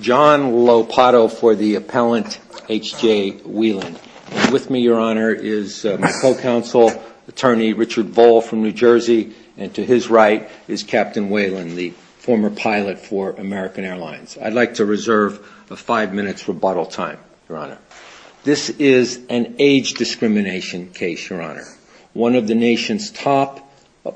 John Lopato for the appellant, H.J. Weiland. With me, Your Honor, is my co-counsel, Attorney Richard Voll from New Jersey, and to his right is Captain Weiland, the former pilot for American Airlines. I'd like to reserve five minutes for bottle time, Your Honor. This is an age discrimination case, Your Honor. One of the nation's top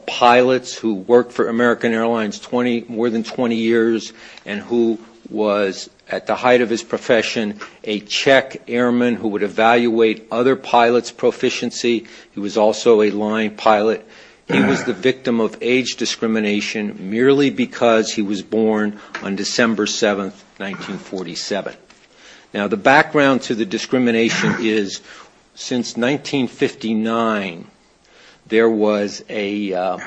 pilots who worked for American Airlines more than 20 years and who was, at the height of his profession, a Czech airman who would evaluate other pilots' proficiency. He was also a line pilot. He was the victim of age discrimination merely because he was born on December 7, 1947. Now, the background to the discrimination is, since 1959, there was a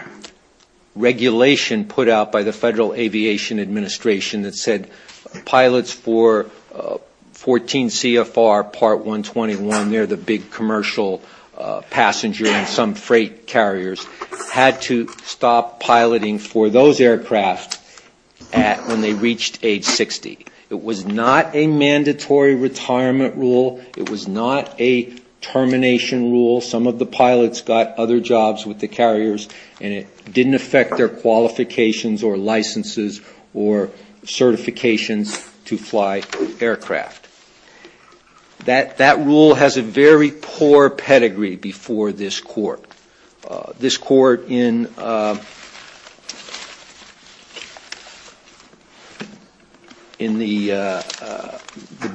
regulation put out by the Federal Aviation Administration that said pilots for 14 CFR Part 121, they're the big commercial passenger and some freight carriers, had to stop piloting for those aircraft when they reached age 60. It was not a mandatory retirement rule. It was not a termination rule. Some of the pilots got other jobs with the carriers and it didn't affect their qualifications or licenses or certifications to fly aircraft. That rule has a very poor pedigree before this Court. This Court in the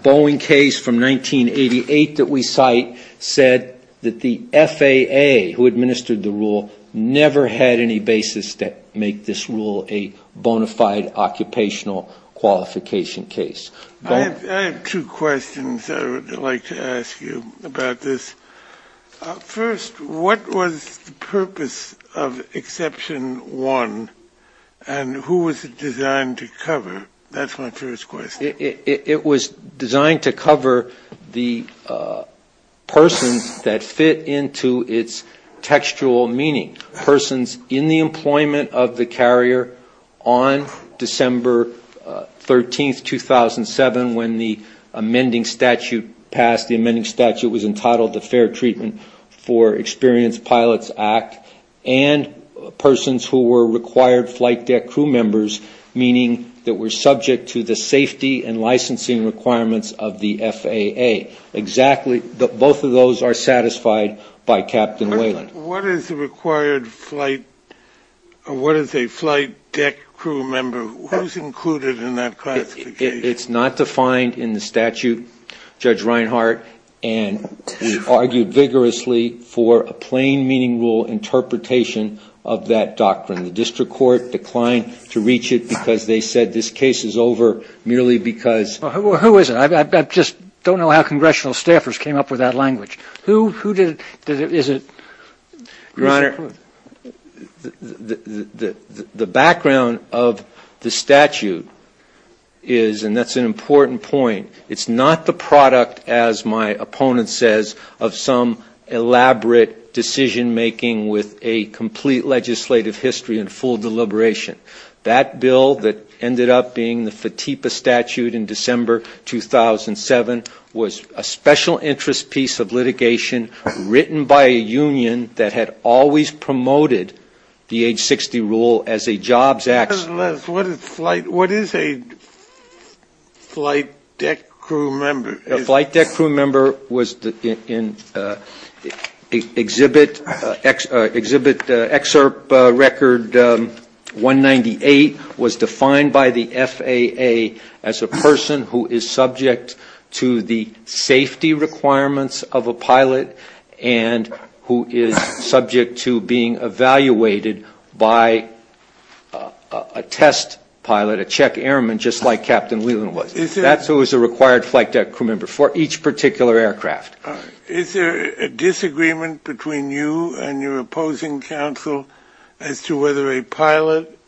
Boeing case from 1988 that we cite said that the FAA, who administered the rule, never had any basis to make this rule a bona fide occupational qualification case. I have two questions I would like to ask you about this. First, what was the purpose of Exception 1 and who was it designed to cover? That's my first question. It was designed to cover the persons that fit into its textual meaning, persons in the when the amending statute passed. The amending statute was entitled the Fair Treatment for Experienced Pilots Act and persons who were required flight deck crew members, meaning that were subject to the safety and licensing requirements of the FAA. Both of those are satisfied by Captain Whelan. What is a required flight deck crew member? Who's included in that classification? It's not defined in the statute, Judge Reinhart, and we argued vigorously for a plain meaning rule interpretation of that doctrine. The district court declined to reach it because they said this case is over merely because Well, who is it? I just don't know how congressional staffers came up with that language. Who did it? Is it? Your Honor, the background of the statute is, and that's an important point, it's not the product, as my opponent says, of some elaborate decision making with a complete legislative history and full deliberation. That bill that ended up being the FATIPA statute in December 2007 was a special interest piece of litigation written by a union that had always promoted the age 60 rule as a jobs act. What is a flight deck crew member? A flight deck crew member was in exhibit excerpt record 198 was defined by the FAA as a person who is subject to the safety requirements of a pilot and who is subject to being evaluated by a test pilot, a check airman, just like Captain Whelan was. That's who is a required flight deck crew member for each particular aircraft. Is there a disagreement between you and your opposing counsel as to whether a pilot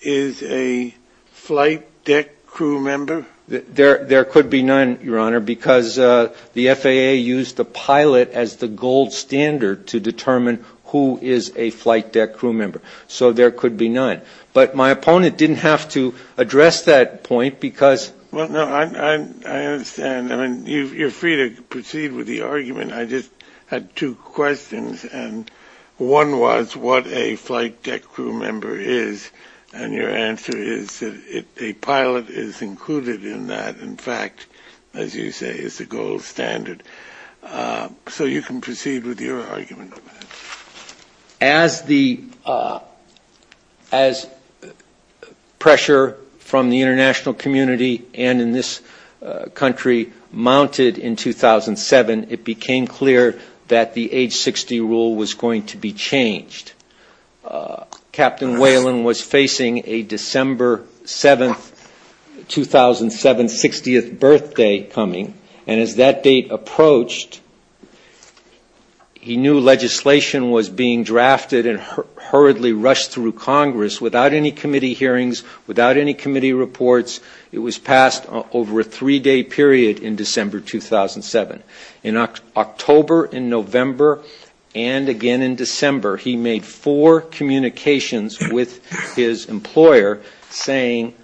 is a flight deck crew member? There could be none, Your Honor, because the FAA used the pilot as the gold standard to determine who is a flight deck crew member. So there could be none. But my opponent didn't have to address that point because I understand. I mean, you're free to proceed with the argument. I just had two questions. And one was what a flight deck crew member is. And your answer is that a pilot is included in that. In fact, as you say, is the gold standard. So you can proceed with your argument. As the pressure from the international community and in this country mounted in 2007, it became clear that the age 60 rule was going to be changed. Captain Whelan was facing a December 7, 2007, 60th birthday coming. And as that date approached, he knew legislation was being drafted and hurriedly rushed through Congress without any committee hearings, without any committee reports. It was passed over a three-day period in December 2007. In October, in November, and again in December, he made four communications with his employer saying,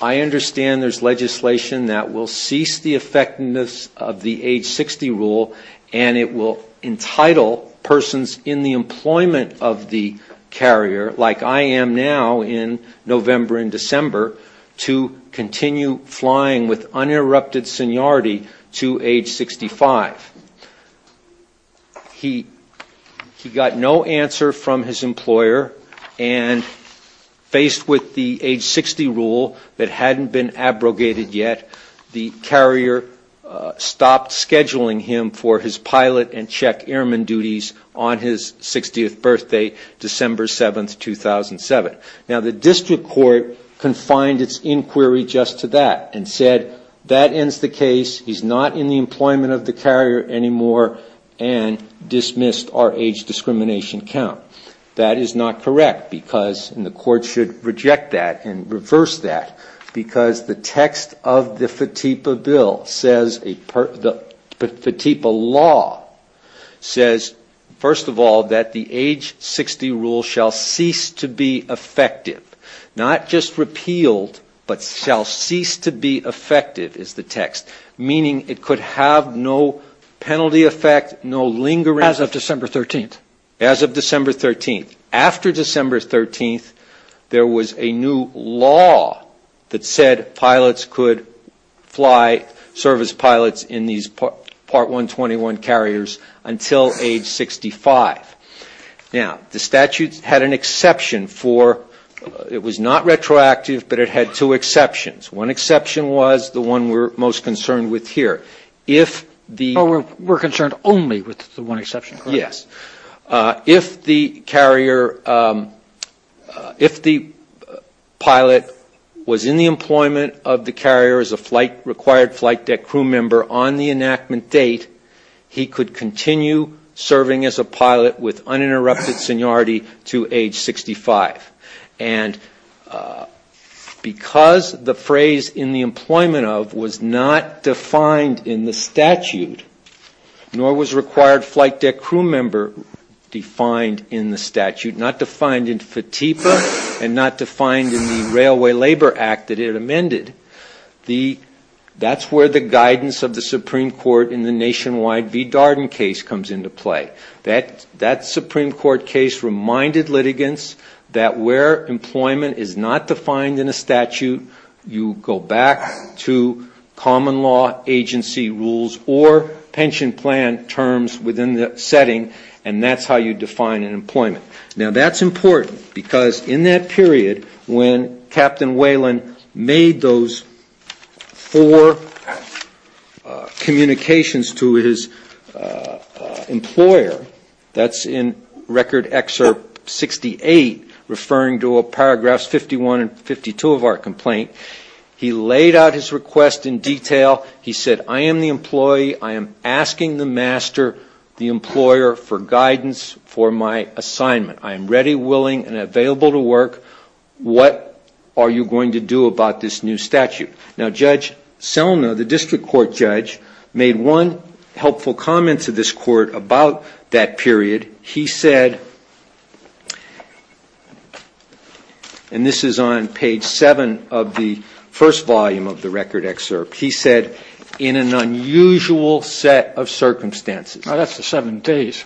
I understand there's legislation that will cease the effectiveness of the age 60 rule and it will entitle persons in the employment of the carrier, like I am now in November and December, to continue flying with uninterrupted seniority to age 65. He got no answer from his employer and faced with the age 60 rule that hadn't been abrogated yet, the carrier stopped scheduling him for his pilot and check airman duties on his 60th birthday, December 7, 2007. Now he looked at that and said, that ends the case. He's not in the employment of the carrier anymore and dismissed our age discrimination count. That is not correct because, and the court should reject that and reverse that, because the text of the FATIPA law says, first of all, that the age 60 rule shall cease to be effective. Not just repealed, but shall cease to be effective, is the text, meaning it could have no penalty effect, no lingering As of December 13th. As of December 13th. After December 13th, there was a new law that said pilots could fly, serve as pilots in these Part 121 carriers until age 65. Now, the statute had an exception for, it was not retroactive, but it had two exceptions. One exception was the one we're most concerned with here. If the We're concerned only with the one exception, correct? Yes. If the carrier, if the pilot was in the employment of the carrier as a required flight deck crew member on the enactment date, he could continue serving as a pilot with uninterrupted seniority to age 65. And because the phrase in the employment of was not defined in the statute, nor was required flight deck crew member defined in the statute, not defined in FATIPA and not defined in the Railway Labor Act that it amended, that's where the guidance of the Supreme Court in the nationwide v. Darden case comes into play. That Supreme Court case reminded litigants that where employment is not defined in a statute, you go back to common law agency rules or pension plan terms within the setting, and that's how you define an employment. Now, that's important because in that period when Captain Whalen made those four communications to his employer, that's in Record Excerpt 68, referring to Paragraphs 51 and 52 of our complaint, he laid out his request in detail. He said, I am the employee. I am asking the master, the employer, for guidance for my assignment. I am ready, willing, and available to work. What are you going to do about this new statute? Now, Judge Selma, the District Court judge, made one helpful comment to this Court about that period. He said, and this is on page 7 of the first volume of the Record Excerpt, he said, in an unusual set of circumstances. Now, that's the seven days.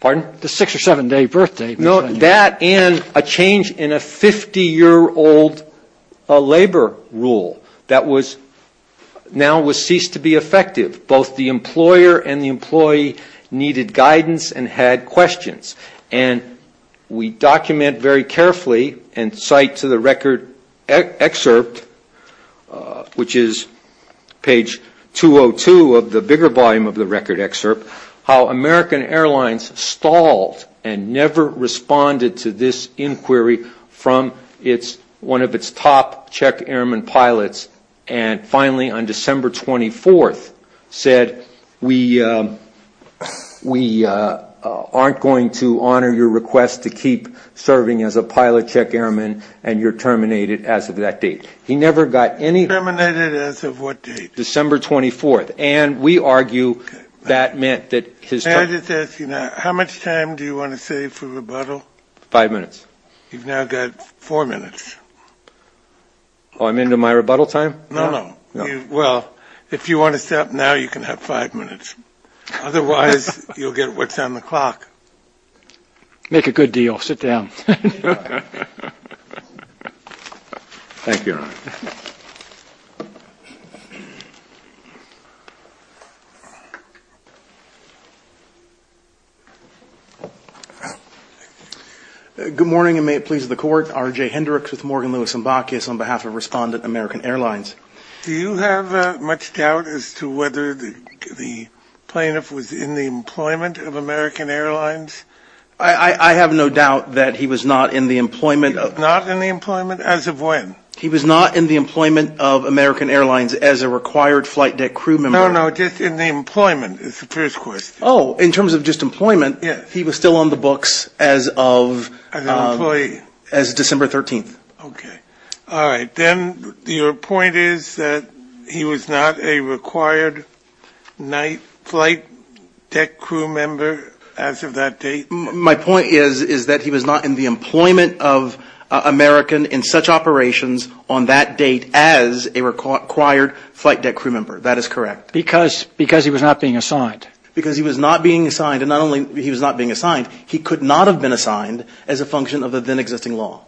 Pardon? The six or seven day birthday. No, that and a change in a 50-year-old labor rule that was now ceased to be effective. Both the employer and the employee needed guidance and had questions. And we document very carefully and cite to the Record Excerpt, which is page 202 of the bigger volume of the Record Excerpt, how American Airlines stalled and never responded to this inquiry from one of its top Czech Airmen pilots. And finally, on December 24th, said, we aren't going to honor your request to keep serving as a pilot Czech Airman and you're terminated as of that date. He never got any... Terminated as of what date? December 24th. And we argue that meant that his... May I just ask you now, how much time do you want to save for rebuttal? Five minutes. You've now got four minutes. Oh, I'm into my rebuttal time? No, no. Well, if you want to stop now, you can have five minutes. Otherwise, you'll get what's on the clock. Make a good deal. Sit down. Thank you, Your Honor. Good morning, and may it please the Court. R.J. Hendricks with Morgan, Lewis & Bacchus on behalf of Respondent American Airlines. Do you have much doubt as to whether the plaintiff was in the employment of American Airlines? I have no doubt that he was not in the employment of... Not in the employment as of when? He was not in the employment of American Airlines as a required flight deck crew member. No, no, just in the employment is the first question. Oh, in terms of just employment, he was still on the books as of... As an employee. As of December 13th. Okay. All right. Then your point is that he was not a required flight deck crew member as of that date? My point is that he was not in the employment of American in such operations on that date as a required flight deck crew member. That is correct. Because he was not being assigned. Because he was not being assigned, and not only he was not being assigned, he could not have been assigned as a function of the then existing law.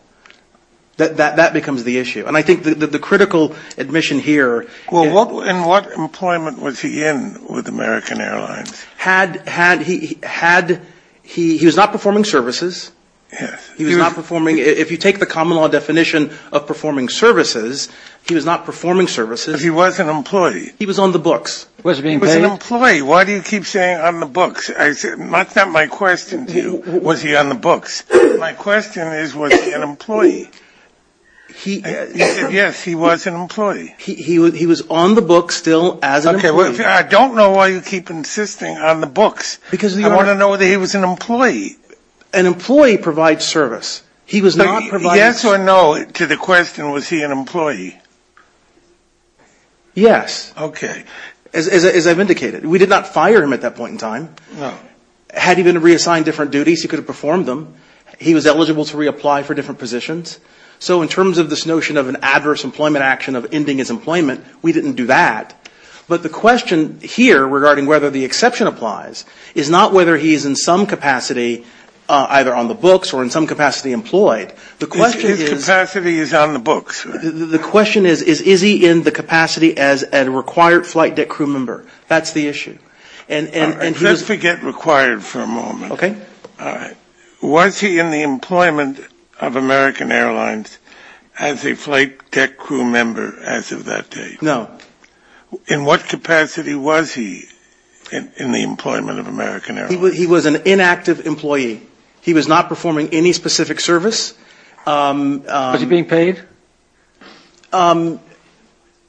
That becomes the issue. And I think that the critical admission here... Well, in what employment was he in with American Airlines? Had... he was not performing services. Yes. He was not performing... If you take the common law definition of performing services, he was not performing services. He was an employee. He was on the books. He was an employee. Why do you keep saying on the books? That's not my question to you, was he on the books? My question is, was he an employee? He... Yes, he was an employee. He was on the books still as an employee. I don't know why you keep insisting on the books. Because... I want to know whether he was an employee. An employee provides service. He was not providing... Yes or no to the question, was he an employee? Yes. Okay. As I've indicated, we did not fire him at that point in time. No. Had he been reassigned different duties, he could have performed them. He was eligible to reapply for different positions. So in terms of this notion of an adverse employment action of ending his employment, we didn't do that. But the question here regarding whether the exception applies is not whether he's in some capacity either on the books or in some capacity employed. The question is... His capacity is on the books. The question is, is he in the capacity as a required flight deck crew member? That's the issue. And... Let's forget required for a moment. Okay. All right. Was he in the employment of American Airlines as a flight deck crew member as of that date? No. In what capacity was he in the employment of American Airlines? He was an inactive employee. He was not performing any specific service. Was he being paid?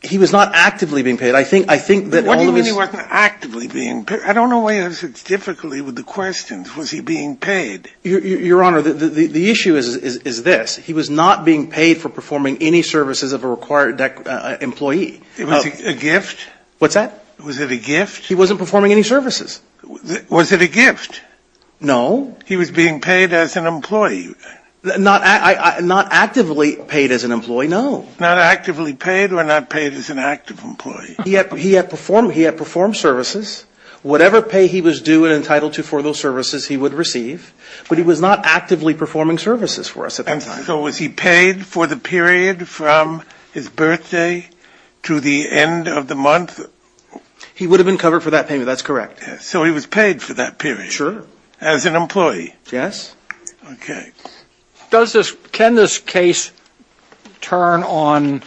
He was not actively being paid. I think that all of his... What do you mean he wasn't actively being paid? I don't know why you ask it so difficultly with the questions. Was he being paid? Your Honor, the issue is this. He was not being paid for performing any services of a required employee. Was it a gift? What's that? Was it a gift? He wasn't performing any services. Was it a gift? No. He was being paid as an employee. Not actively paid as an employee? No. Not actively paid or not paid as an active employee? He had performed services. Whatever pay he was due and entitled to for those services, he would receive. But he was not actively performing services for us at that time. So was he paid for the period from his birthday to the end of the month? He would have been covered for that payment. That's correct. So he was paid for that period? Sure. As an employee? Yes. OK. Can this case turn on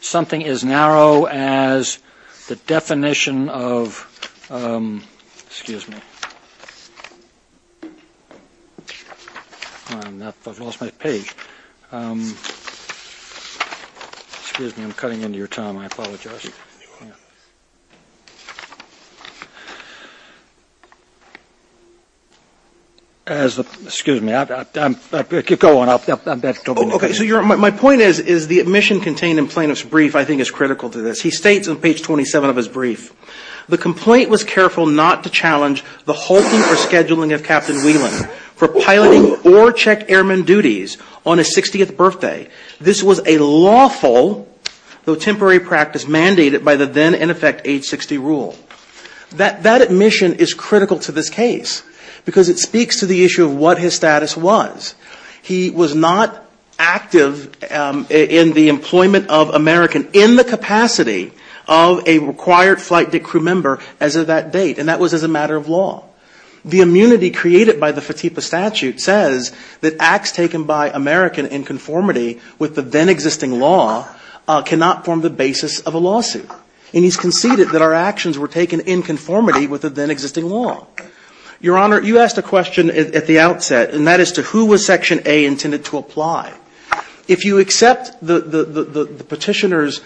something as narrow as the definition of, excuse me. I've lost my page. Excuse me. I'm cutting into your time. I apologize. Excuse me. Go on. My point is the admission contained in plaintiff's brief, I think, is critical to this. He states on page 27 of his brief, the complaint was careful not to challenge the hulking or scheduling of Captain Whelan for piloting or check airman duties on his 60th birthday. This was a lawful, though temporary practice, mandatory, and unconstitutional practice. It was mandated by the then in effect age 60 rule. That admission is critical to this case because it speaks to the issue of what his status was. He was not active in the employment of American in the capacity of a required flight crew member as of that date. And that was as a matter of law. The immunity created by the FATIPA statute says that acts taken by American in conformity with the then existing law cannot form the basis of a lawsuit. And he's conceded that our actions were taken in conformity with the then existing law. Your Honor, you asked a question at the outset, and that is to who was Section A intended to apply. If you accept the petitioner's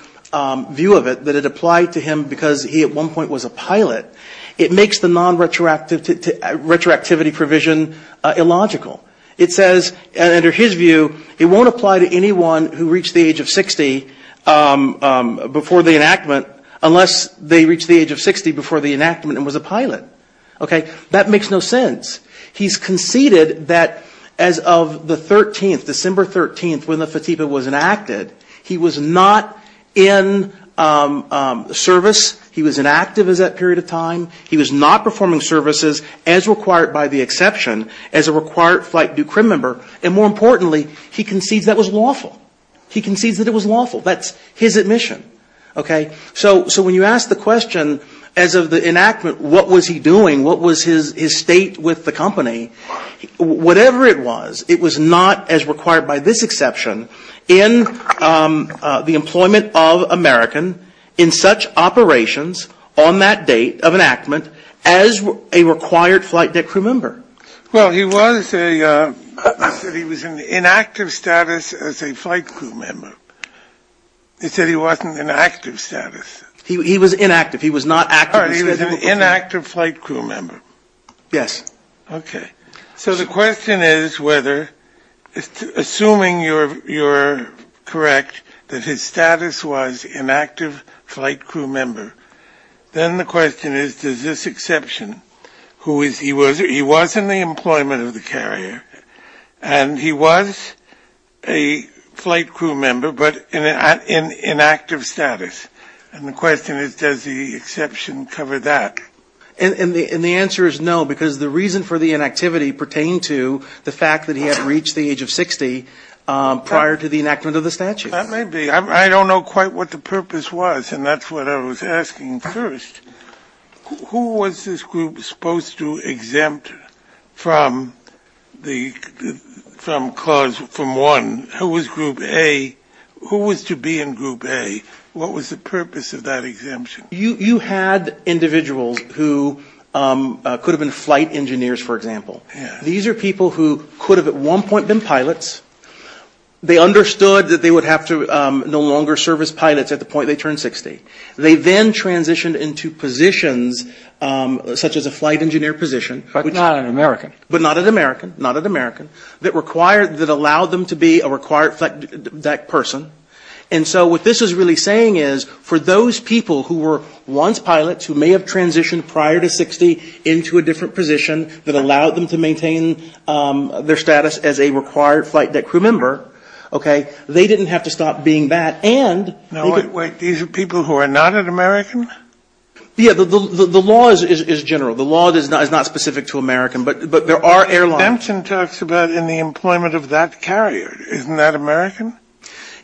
view of it, that it applied to him because he at one point was a pilot, it makes the non-retroactivity provision illogical. It says, under his view, it won't apply to anyone who reached the age of 60 before the enactment unless they reached the age of 60 before the enactment and was a pilot. Okay? That makes no sense. He's conceded that as of the 13th, December 13th, when the FATIPA was enacted, he was not in service, he was inactive as that period of time, he was not performing services as required by the exception as a required flight due crim member, and more importantly, he concedes that was lawful. He concedes that it was lawful. That's his admission. Okay? So when you ask the question, as of the enactment, what was he doing, what was his state with the company, whatever it was, it was not as required by this exception in the employment of American in such operations on that date of enactment as a required flight due crim member. Well, he was a, he said he was inactive status as a flight crew member. He said he wasn't inactive status. He was inactive. He was not active. All right. He was an inactive flight crew member. Yes. Okay. So the question is whether, assuming you're correct that his status was inactive flight crew member, then the question is, does this exception, who is, he was in the employment of the carrier, and he was a flight crew member, but inactive status, and the question is, does the exception cover that? And the answer is no, because the reason for the inactivity pertain to the fact that he had reached the age of 60 prior to the enactment of the statute. That may be. I don't know quite what the purpose was, and that's what I was asking first. Who was this group supposed to exempt from clause from one? Who was group A? Who was to be in group A? What was the purpose of that exemption? You had individuals who could have been flight engineers, for example. Yeah. These are people who could have at one point been pilots. They understood that they would have to no longer serve as pilots at the point they turned 60. They then transitioned into positions such as a flight engineer position. But not an American. But not an American. Not an American. That required, that allowed them to be a required, that person. And so what this is really saying is, for those people who were once pilots, who may have transitioned prior to 60 into a different position, that allowed them to maintain their status as a required flight deck crew member, okay, they didn't have to stop being that. And they could... Now, wait, wait. These are people who are not an American? Yeah. The law is general. The law is not specific to American. But there are airlines. The exemption talks about in the employment of that carrier. Isn't that American?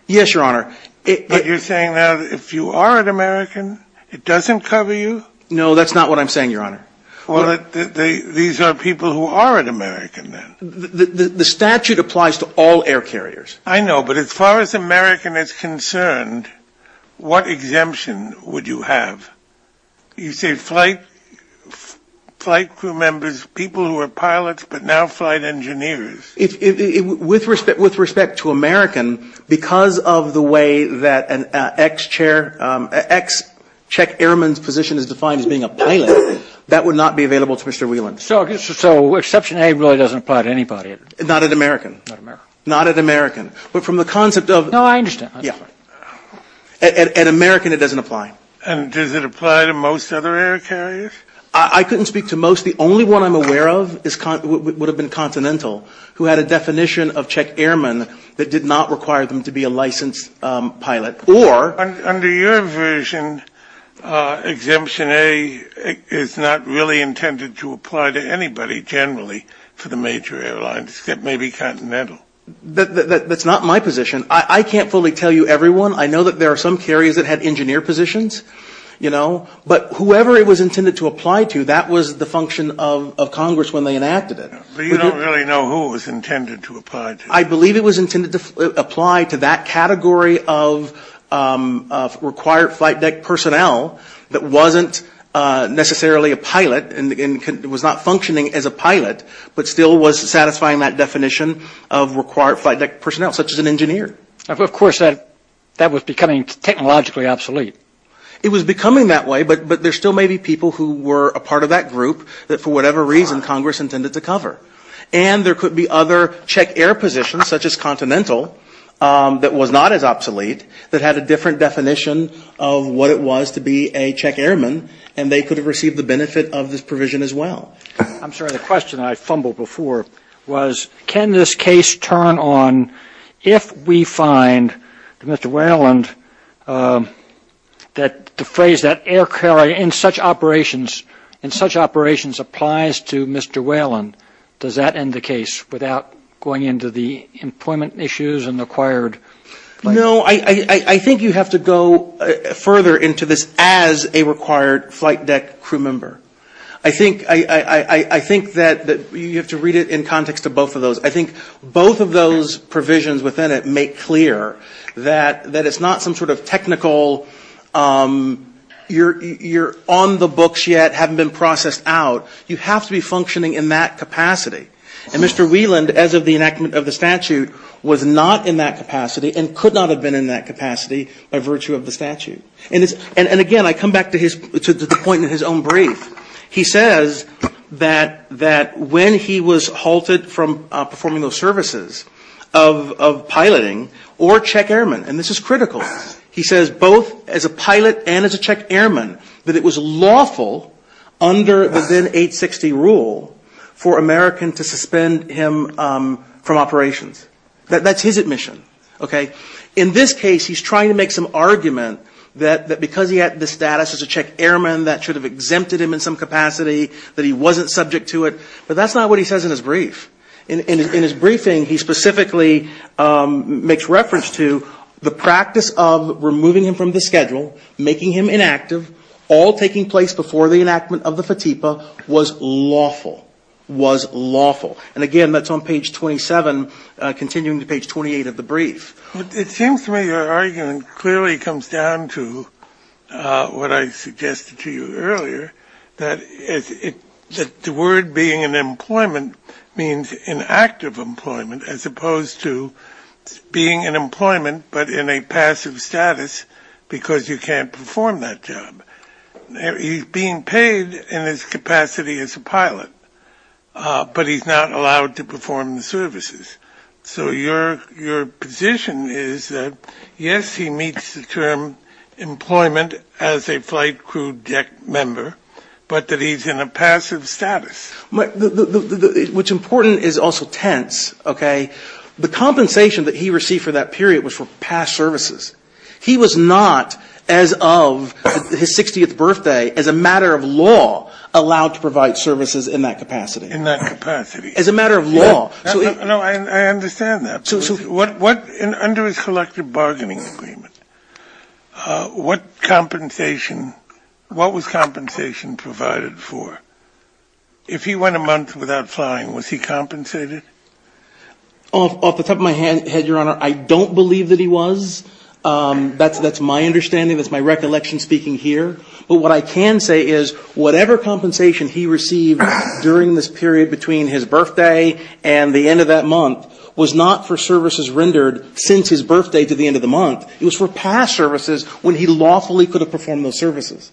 Yes, Your Honor. But you're saying now that if you are an American, it doesn't cover you? No, that's not what I'm saying, Your Honor. Well, these are people who are an American then. The statute applies to all air carriers. I know. But as far as American is concerned, what exemption would you have? You say flight crew members, people who were pilots but now flight engineers. With respect to American, because of the way that an ex-chair, ex-check airman's position is defined as being a pilot, that would not be available to Mr. Whelan. So Exception A really doesn't apply to anybody? Not at American. Not at American. But from the concept of... No, I understand. Yeah. At American, it doesn't apply. And does it apply to most other air carriers? I couldn't speak to most. The only one I'm aware of would have been Continental, who had a definition of check airman that did not require them to be a licensed pilot. Or... Under your version, Exemption A is not really intended to apply to anybody generally for the major airlines, except maybe Continental. That's not my position. I can't fully tell you everyone. I know that there are some carriers that had engineer positions, you know. But whoever it was intended to apply to, that was the function of Congress when they enacted it. But you don't really know who it was intended to apply to. I believe it was intended to apply to that category of required flight deck personnel that wasn't necessarily a pilot and was not functioning as a pilot, but still was satisfying that definition of required flight deck personnel, such as an engineer. Of course, that was becoming technologically obsolete. It was becoming that way, but there still may be people who were a part of that group that, for whatever reason, Congress intended to cover. And there could be other check air positions, such as Continental, that was not as obsolete, that had a different definition of what it was to be a check airman, and they could have received the benefit of this provision as well. I'm sorry. The question I fumbled before was, can this case turn on if we find that Mr. Whelan, the phrase that air carrier in such operations applies to Mr. Whelan, does that end the case without going into the employment issues and required? No. I think you have to go further into this as a required flight deck crew member. I think that you have to read it in context to both of those. I think both of those provisions within it make clear that it's not some sort of technical, you're on the books yet, haven't been processed out. You have to be functioning in that capacity. And Mr. Whelan, as of the enactment of the statute, was not in that capacity and could not have been in that capacity by virtue of the statute. And again, I come back to the point in his own brief. He says that when he was halted from performing those services of piloting or check airman, and this is critical, he says both as a pilot and as a check airman, that it was lawful under the then 860 rule for Americans to suspend him from operations. That's his admission. In this case, he's trying to make some argument that because he had this status as a check airman, that should have exempted him in some capacity, that he wasn't subject to it. But that's not what he says in his brief. In his briefing, he specifically makes reference to the practice of removing him from the schedule, making him inactive, all taking place before the enactment of the FATIPA, was lawful. Was lawful. And again, that's on page 27, continuing to page 28 of the brief. It seems to me your argument clearly comes down to what I suggested to you earlier, that the word being in employment means inactive employment as opposed to being in employment, but in a passive status because you can't perform that job. He's being paid in his capacity as a pilot, but he's not allowed to perform the services. So your position is that, yes, he meets the term employment as a flight crew deck member, but that he's in a passive status. Which, important, is also tense, okay? The compensation that he received for that period was for past services. He was not, as of his 60th birthday, as a matter of law, allowed to provide services in that capacity. In that capacity. As a matter of law. No, I understand that. Under his collective bargaining agreement, what compensation, what was compensation provided for? If he went a month without flying, was he compensated? Off the top of my head, Your Honor, I don't believe that he was. That's my understanding. That's my recollection speaking here. But what I can say is whatever compensation he received during this period between his birthday and the end of that month was not for services rendered since his birthday to the end of the month. It was for past services when he lawfully could have performed those services.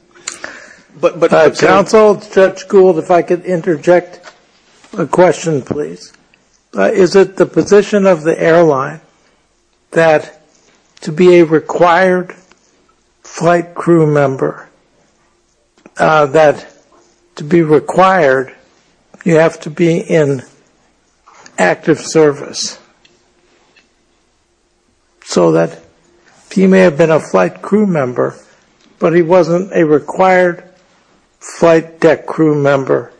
But counsel, Judge Gould, if I could interject a question, please. Is it the position of the airline that to be a required flight crew member, that to be required, you have to be in active service? So that he may have been a flight crew member, but he wasn't a required flight deck crew member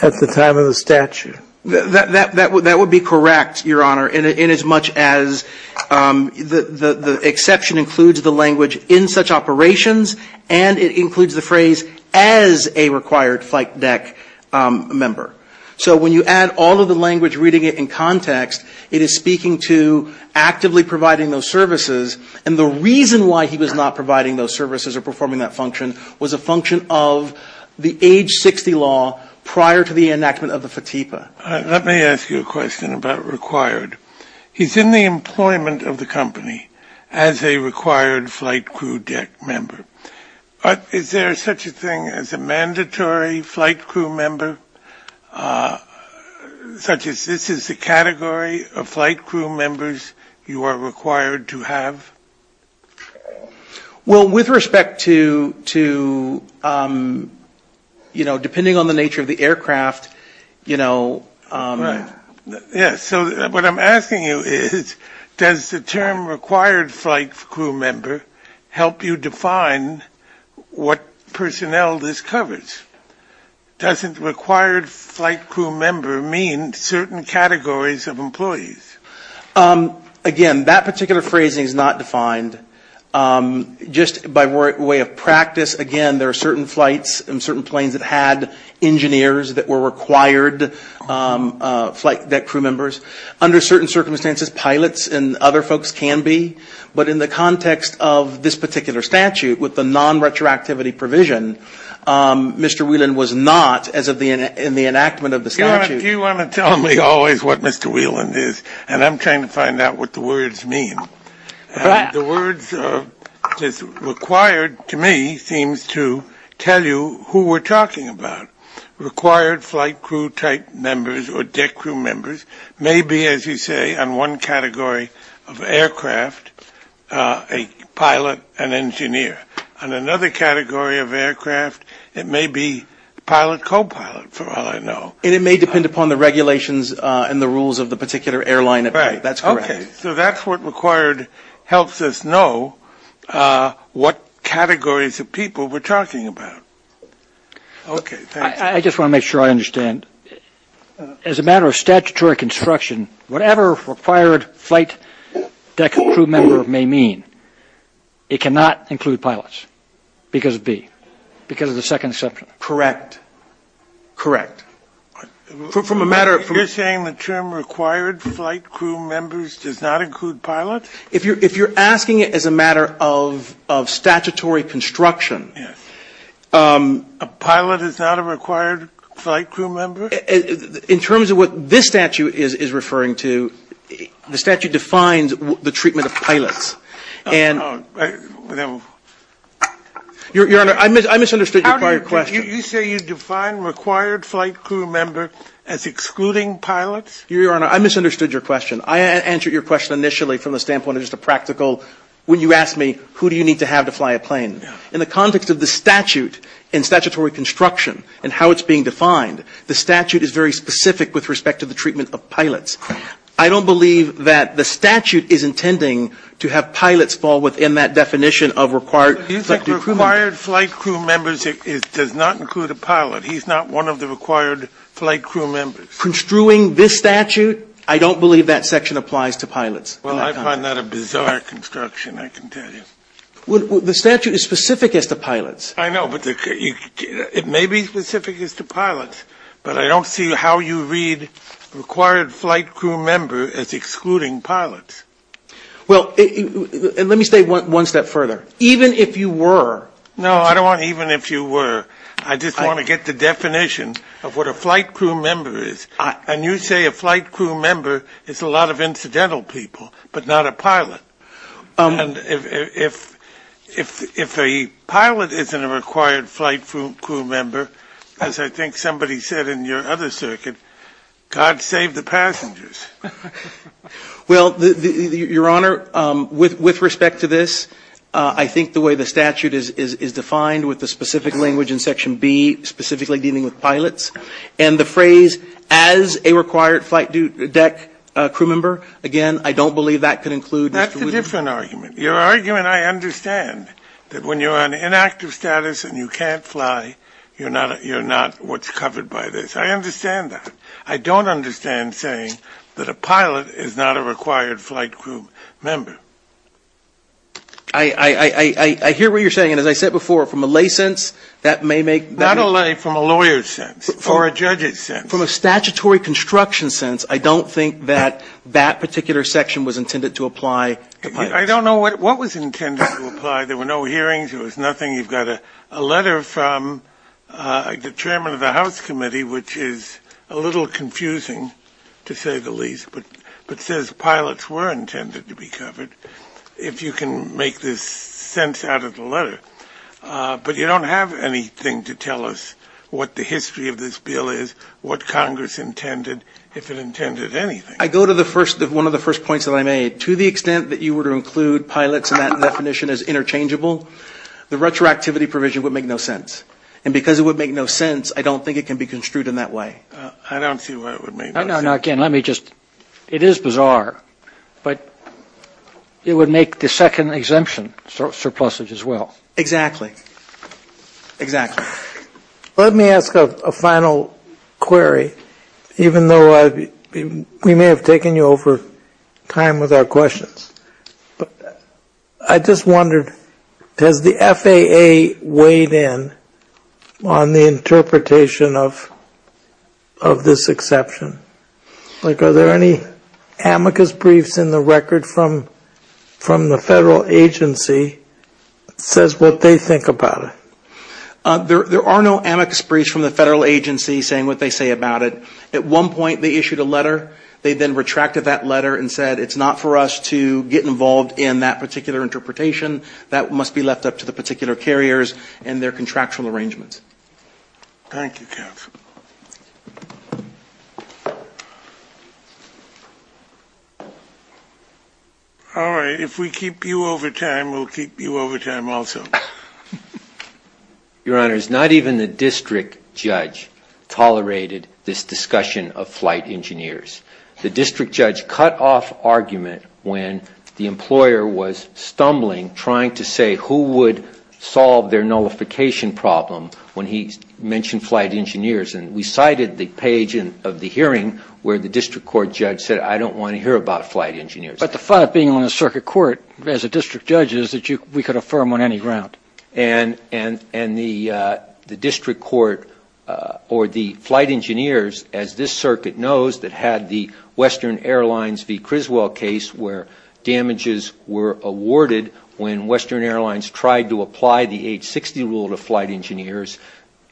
at the time of the statute? That would be correct, Your Honor, inasmuch as the exception includes the language in such operations and it includes the phrase as a required flight deck member. So when you add all of the language reading it in context, it is speaking to actively providing those services. And the reason why he was not providing those services or performing that function was a function of the age 60 law prior to the enactment of the FATIPA. Let me ask you a question about required. He's in the employment of the company as a required flight crew deck member. Is there such a thing as a mandatory flight crew member such as this is the category of flight crew members you are required to have? Well, with respect to, you know, depending on the nature of the aircraft, you know. Yes. So what I'm asking you is, does the term required flight crew member help you define what personnel this covers? Doesn't required flight crew member mean certain categories of employees? Again, that particular phrasing is not defined. Just by way of practice, again, there are certain flights and certain planes that had engineers that were required flight deck crew members. Under certain circumstances, pilots and other folks can be. But in the context of this particular statute with the non-retroactivity provision, Mr. Whelan was not as of the enactment of the statute. You want to tell me always what Mr. Whelan is. And I'm trying to find out what the words mean. The words required to me seems to tell you who we're talking about. Required flight crew type members or deck crew members may be, as you say, on one category of aircraft, a pilot, an engineer. On another category of aircraft, it may be pilot, copilot, for all I know. And it may depend upon the regulations and the rules of the particular airline. Right. That's correct. Okay. So that's what required helps us know what categories of people we're talking about. Okay. I just want to make sure I understand. As a matter of statutory construction, whatever required flight deck crew member may mean, it cannot include pilots because of B, because of the second exception. Correct. You're saying the term required flight crew members does not include pilots? If you're asking it as a matter of statutory construction. Yes. A pilot is not a required flight crew member? In terms of what this statute is referring to, the statute defines the treatment of pilots. Your Honor, I misunderstood your question. You say you define required flight crew member as excluding pilots? Your Honor, I misunderstood your question. I answered your question initially from the standpoint of just a practical, when you asked me who do you need to have to fly a plane. In the context of the statute and statutory construction and how it's being defined, the statute is very specific with respect to the treatment of pilots. I don't believe that the statute is intending to have pilots fall within that definition of required. Required flight crew members does not include a pilot. He's not one of the required flight crew members. Construing this statute, I don't believe that section applies to pilots. Well, I find that a bizarre construction, I can tell you. The statute is specific as to pilots. I know, but it may be specific as to pilots, but I don't see how you read required flight crew member as excluding pilots. Well, let me say one step further. Even if you were. No, I don't want even if you were. I just want to get the definition of what a flight crew member is. And you say a flight crew member is a lot of incidental people, but not a pilot. And if a pilot isn't a required flight crew member, as I think somebody said in your other circuit, God save the passengers. Well, Your Honor, with respect to this, I think the way the statute is defined with the specific language in section B, specifically dealing with pilots, and the phrase as a required flight deck crew member, again, I don't believe that could include Mr. Wooten. That's a different argument. Your argument I understand, that when you're on inactive status and you can't fly, you're not what's covered by this. I understand that. I don't understand saying that a pilot is not a required flight crew member. I hear what you're saying. And as I said before, from a lay sense, that may make better. Not a lay, from a lawyer's sense, or a judge's sense. From a statutory construction sense, I don't think that that particular section was intended to apply to pilots. I don't know what was intended to apply. There were no hearings. There was nothing. You've got a letter from the Chairman of the House Committee, which is a little confusing, to say the least, but says pilots were intended to be covered, if you can make this sense out of the letter. But you don't have anything to tell us what the history of this bill is, what Congress intended, if it intended anything. I go to one of the first points that I made. To the extent that you were to include pilots in that definition as a retroactivity provision would make no sense. And because it would make no sense, I don't think it can be construed in that way. I don't see why it would make no sense. No, again, let me just, it is bizarre, but it would make the second exemption surplusage as well. Exactly. Exactly. Let me ask a final query, even though we may have taken you over time with our QA weighed in on the interpretation of this exception. Like, are there any amicus briefs in the record from the federal agency that says what they think about it? There are no amicus briefs from the federal agency saying what they say about it. At one point, they issued a letter. They then retracted that letter and said, it's not for us to get involved in that particular interpretation. That must be left up to the particular carriers and their contractual arrangements. Thank you, counsel. All right. If we keep you over time, we'll keep you over time also. Your Honor, not even the district judge tolerated this discussion of flight engineers. The district judge cut off argument when the employer was stumbling, trying to say who would solve their nullification problem when he mentioned flight engineers. And we cited the page of the hearing where the district court judge said, I don't want to hear about flight engineers. But the fact of being on the circuit court as a district judge is that we could affirm on any ground. And the district court or the flight engineers, as this circuit knows, that had the Western Airlines v. Criswell case where damages were awarded when Western Airlines tried to apply the age 60 rule to flight engineers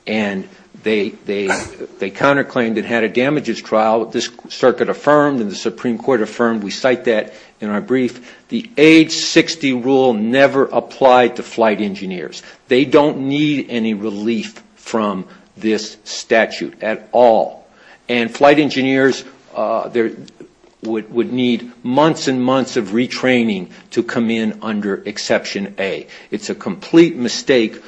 and they counterclaimed and had a damages trial. This circuit affirmed and the Supreme Court affirmed. We cite that in our brief. The age 60 rule never applied to flight engineers. They don't need any relief from this statute at all. And flight engineers would need months and months of retraining to come in under exception A. It's a complete mistake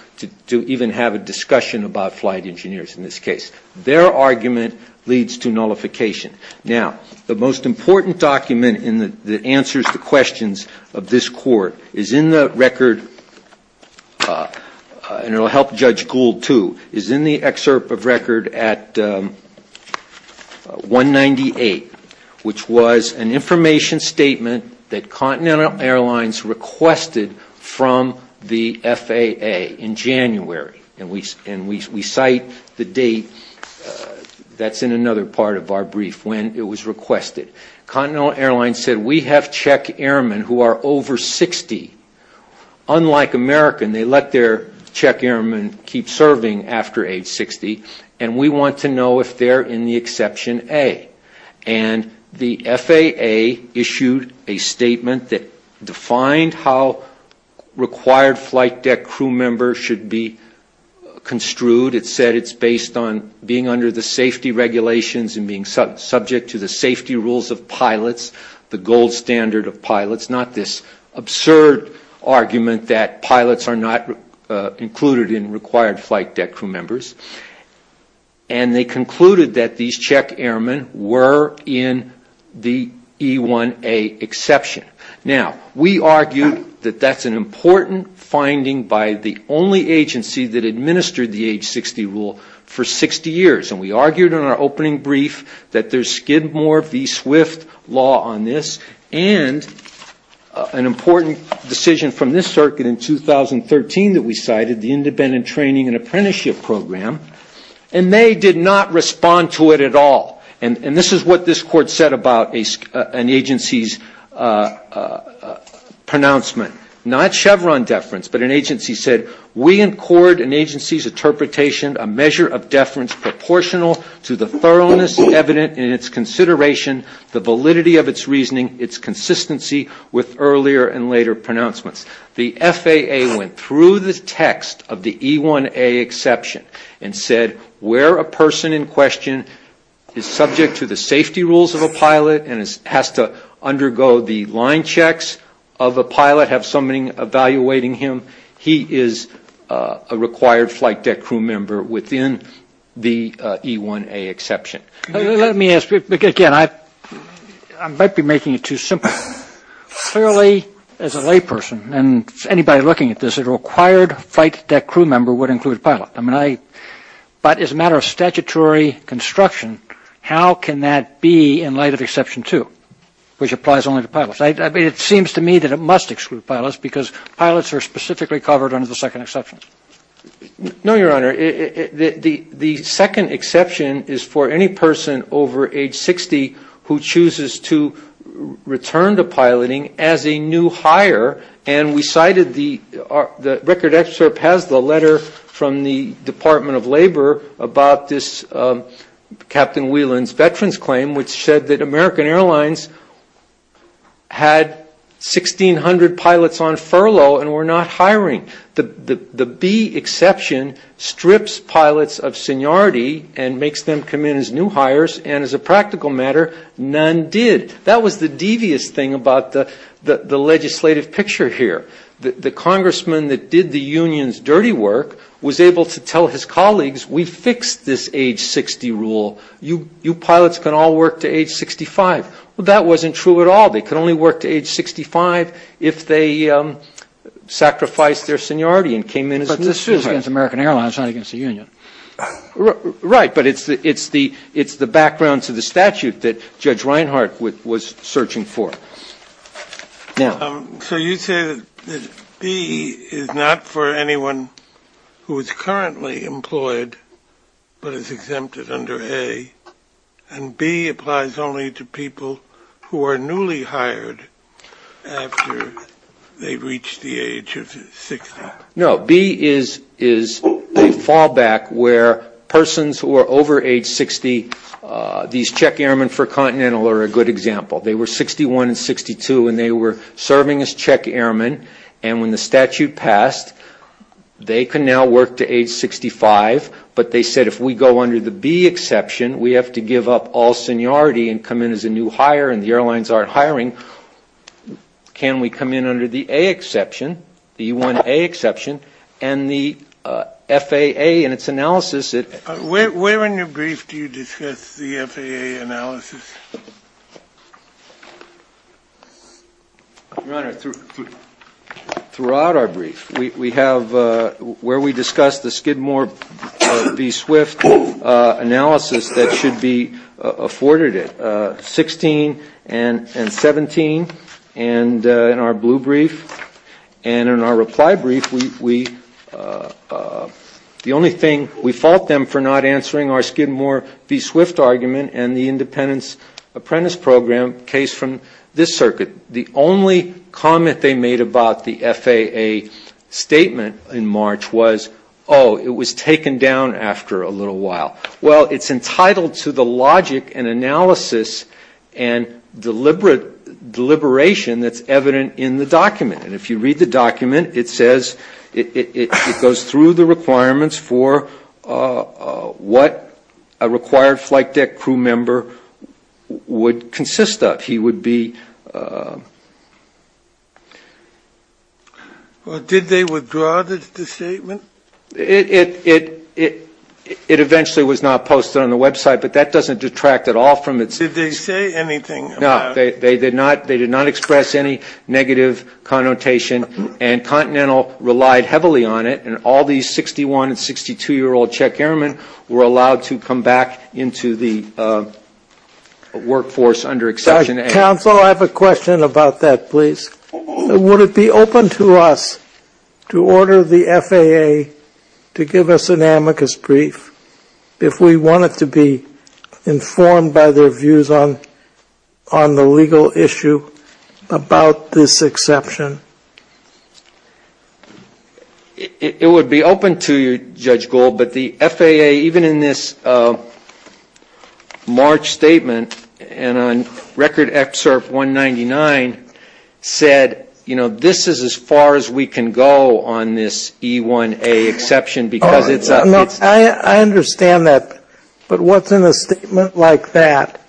to even have a discussion about flight engineers in this case. Their argument leads to nullification. Now, the most important document that answers the questions of this court is in the record, and it will help Judge Gould too, is in the excerpt of record at 198, which was an information statement that Continental Airlines requested from the FAA in January. And we cite the date that's in another part of our brief when it was requested. Continental Airlines said, we have Czech airmen who are over 60. Unlike American, they let their Czech airmen keep serving after age 60, and we want to know if they're in the exception A. And the FAA issued a statement that defined how required flight deck crew members should be construed. It said it's based on being under the safety regulations and being subject to the safety rules of pilots, the gold standard of pilots, not this absurd argument that pilots are not included in required flight deck crew members. And they concluded that these Czech airmen were in the E1A exception. Now, we argued that that's an important finding by the only agency that administered the age 60 rule for 60 years, and we argued in our opening brief that there's Skidmore v. Swift law on this, and an important decision from this circuit in 2013 that we cited, the independent training and apprenticeship program, and they did not respond to it at all. And this is what this court said about an agency's pronouncement. Not Chevron deference, but an agency said, we in court, an agency's interpretation, a measure of deference proportional to the thoroughness evident in its consideration, the validity of its reasoning, its consistency with earlier and later pronouncements. The FAA went through the text of the E1A exception and said, where a person in question is subject to the safety rules of a pilot and has to undergo the line checks of a pilot, have somebody evaluating him, he is a required flight deck crew member within the E1A exception. Let me ask, again, I might be making it too simple. Clearly, as a lay person, and anybody looking at this, a required flight deck crew member would include a pilot, but as a matter of statutory construction, how can that be in light of exception two, which applies only to pilots? It seems to me that it must exclude pilots because pilots are specifically covered under the second exception. No, Your Honor. The second exception is for any person over age 60 who chooses to return to the Air Force. I read a letter from the Department of Labor about this Captain Whelan's veterans claim, which said that American Airlines had 1,600 pilots on furlough and were not hiring. The B exception strips pilots of seniority and makes them come in as new pilots. Now, the fact that Captain Whelan was able to work, was able to tell his colleagues, we fixed this age 60 rule, you pilots can all work to age 65. Well, that wasn't true at all. They could only work to age 65 if they sacrificed their seniority and came in as new pilots. It's not against American Airlines, it's not against the union. Right, but it's the background to the statute that Judge Reinhart was searching for. So you say that B is not for anyone who is currently employed, but is exempted under A, and B applies only to people who are newly hired after they've reached the age of 60. No, B is a fallback where persons who are over age 60, these Czech Airmen for Continental are a good example. They were 61 and 62 and they were serving as Czech Airmen, and when the statute passed, they can now work to age 65, but they said if we go under the B exception, we have to give up all seniority and come in as a new hire and the FAA in its analysis. Where in your brief do you discuss the FAA analysis? Your Honor, throughout our brief. We have where we discuss the Skidmore B Swift analysis that should be afforded it, 16 and 17, and in our blue brief, and in our reply brief, we discuss the only thing, we fault them for not answering our Skidmore B Swift argument and the Independence Apprentice Program case from this circuit. The only comment they made about the FAA statement in March was, oh, it was taken down after a little while. Well, it's entitled to the logic and analysis and deliberation that's evident in the statement, but it goes through the requirements for what a required flight deck crew member would consist of. Did they withdraw the statement? It eventually was not posted on the website, but that doesn't detract at all from it. Did they say anything? No, they did not express any negative connotation, and Continental relied heavily on it, and all these 61 and 62-year-old Czech airmen were allowed to come back into the workforce under exception. Counsel, I have a question about that, please. Would it be open to us to order the FAA to give us an amicus brief if we wanted to be informed by their judgment on the legal issue about this exception? It would be open to you, Judge Gould, but the FAA, even in this March statement and on Record Excerpt 199, said, you know, this is as far as we can go on this E1A exception, because it's a... I understand that, but what's in a statement like that,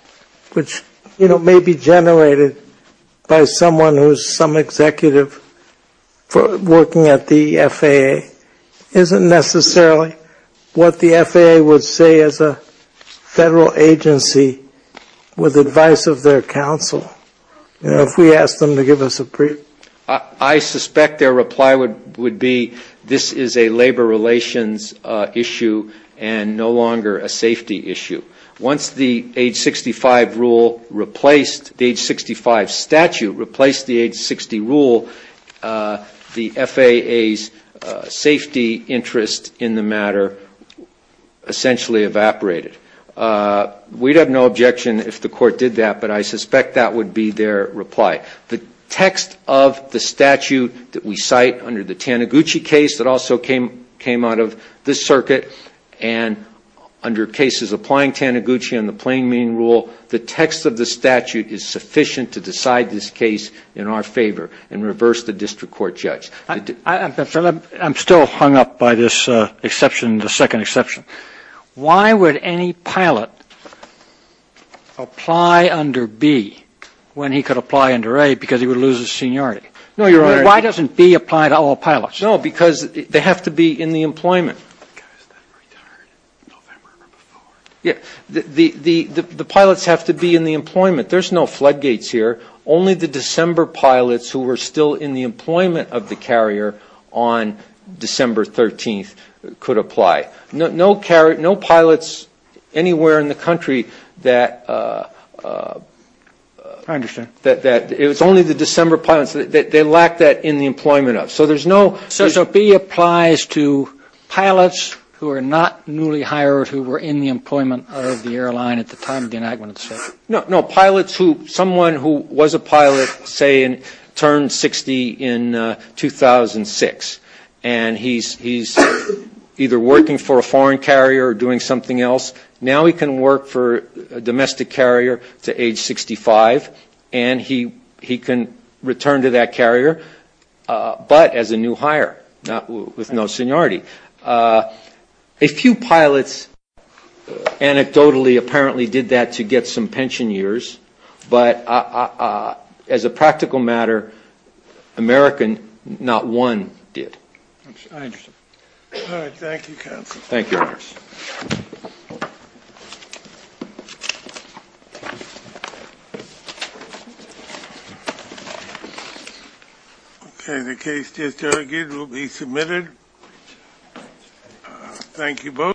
which, you know, may be generated by someone who's some executive working at the FAA, isn't necessarily what the FAA would say as a Federal agency with advice of their counsel. You know, if we asked them to give us a brief. I suspect their reply would be, this is a labor relations issue and no longer a safety issue. Once the age 65 rule replaced, the age 65 statute replaced the age 60 rule, the FAA's safety interest in the matter essentially evaporated. We'd have no objection if the court did that, but I suspect that would be their reply. The text of the statute that we cite under the Taniguchi case that also came out of this circuit, and under cases applying Taniguchi and the plain meaning rule, the text of the statute is sufficient to decide this case in our favor and reverse the district court judge. I'm still hung up by this exception, the second exception. Why would any pilot apply under B when he could apply under A because he would lose his seniority? Why doesn't B apply to all pilots? No, because they have to be in the employment. The pilots have to be in the employment. There's no floodgates here. Only the December pilots who were still in the employment of the carrier on December 13th could apply. No pilots anywhere in the country that, it was only the December pilots, they lacked that in the employment of. So B applies to pilots who are not newly hired, who were in the employment of the airline at the time of the accident. There are pilots who, someone who was a pilot, say, turned 60 in 2006, and he's either working for a foreign carrier or doing something else. Now he can work for a domestic carrier to age 65, and he can return to that carrier, but as a new hire, with no seniority. A few pilots anecdotally apparently did that to get some pension years, but as a practical matter, American, not one did. Thank you, counsel. Thank you. Okay, the case just argued will be submitted. Thank you both.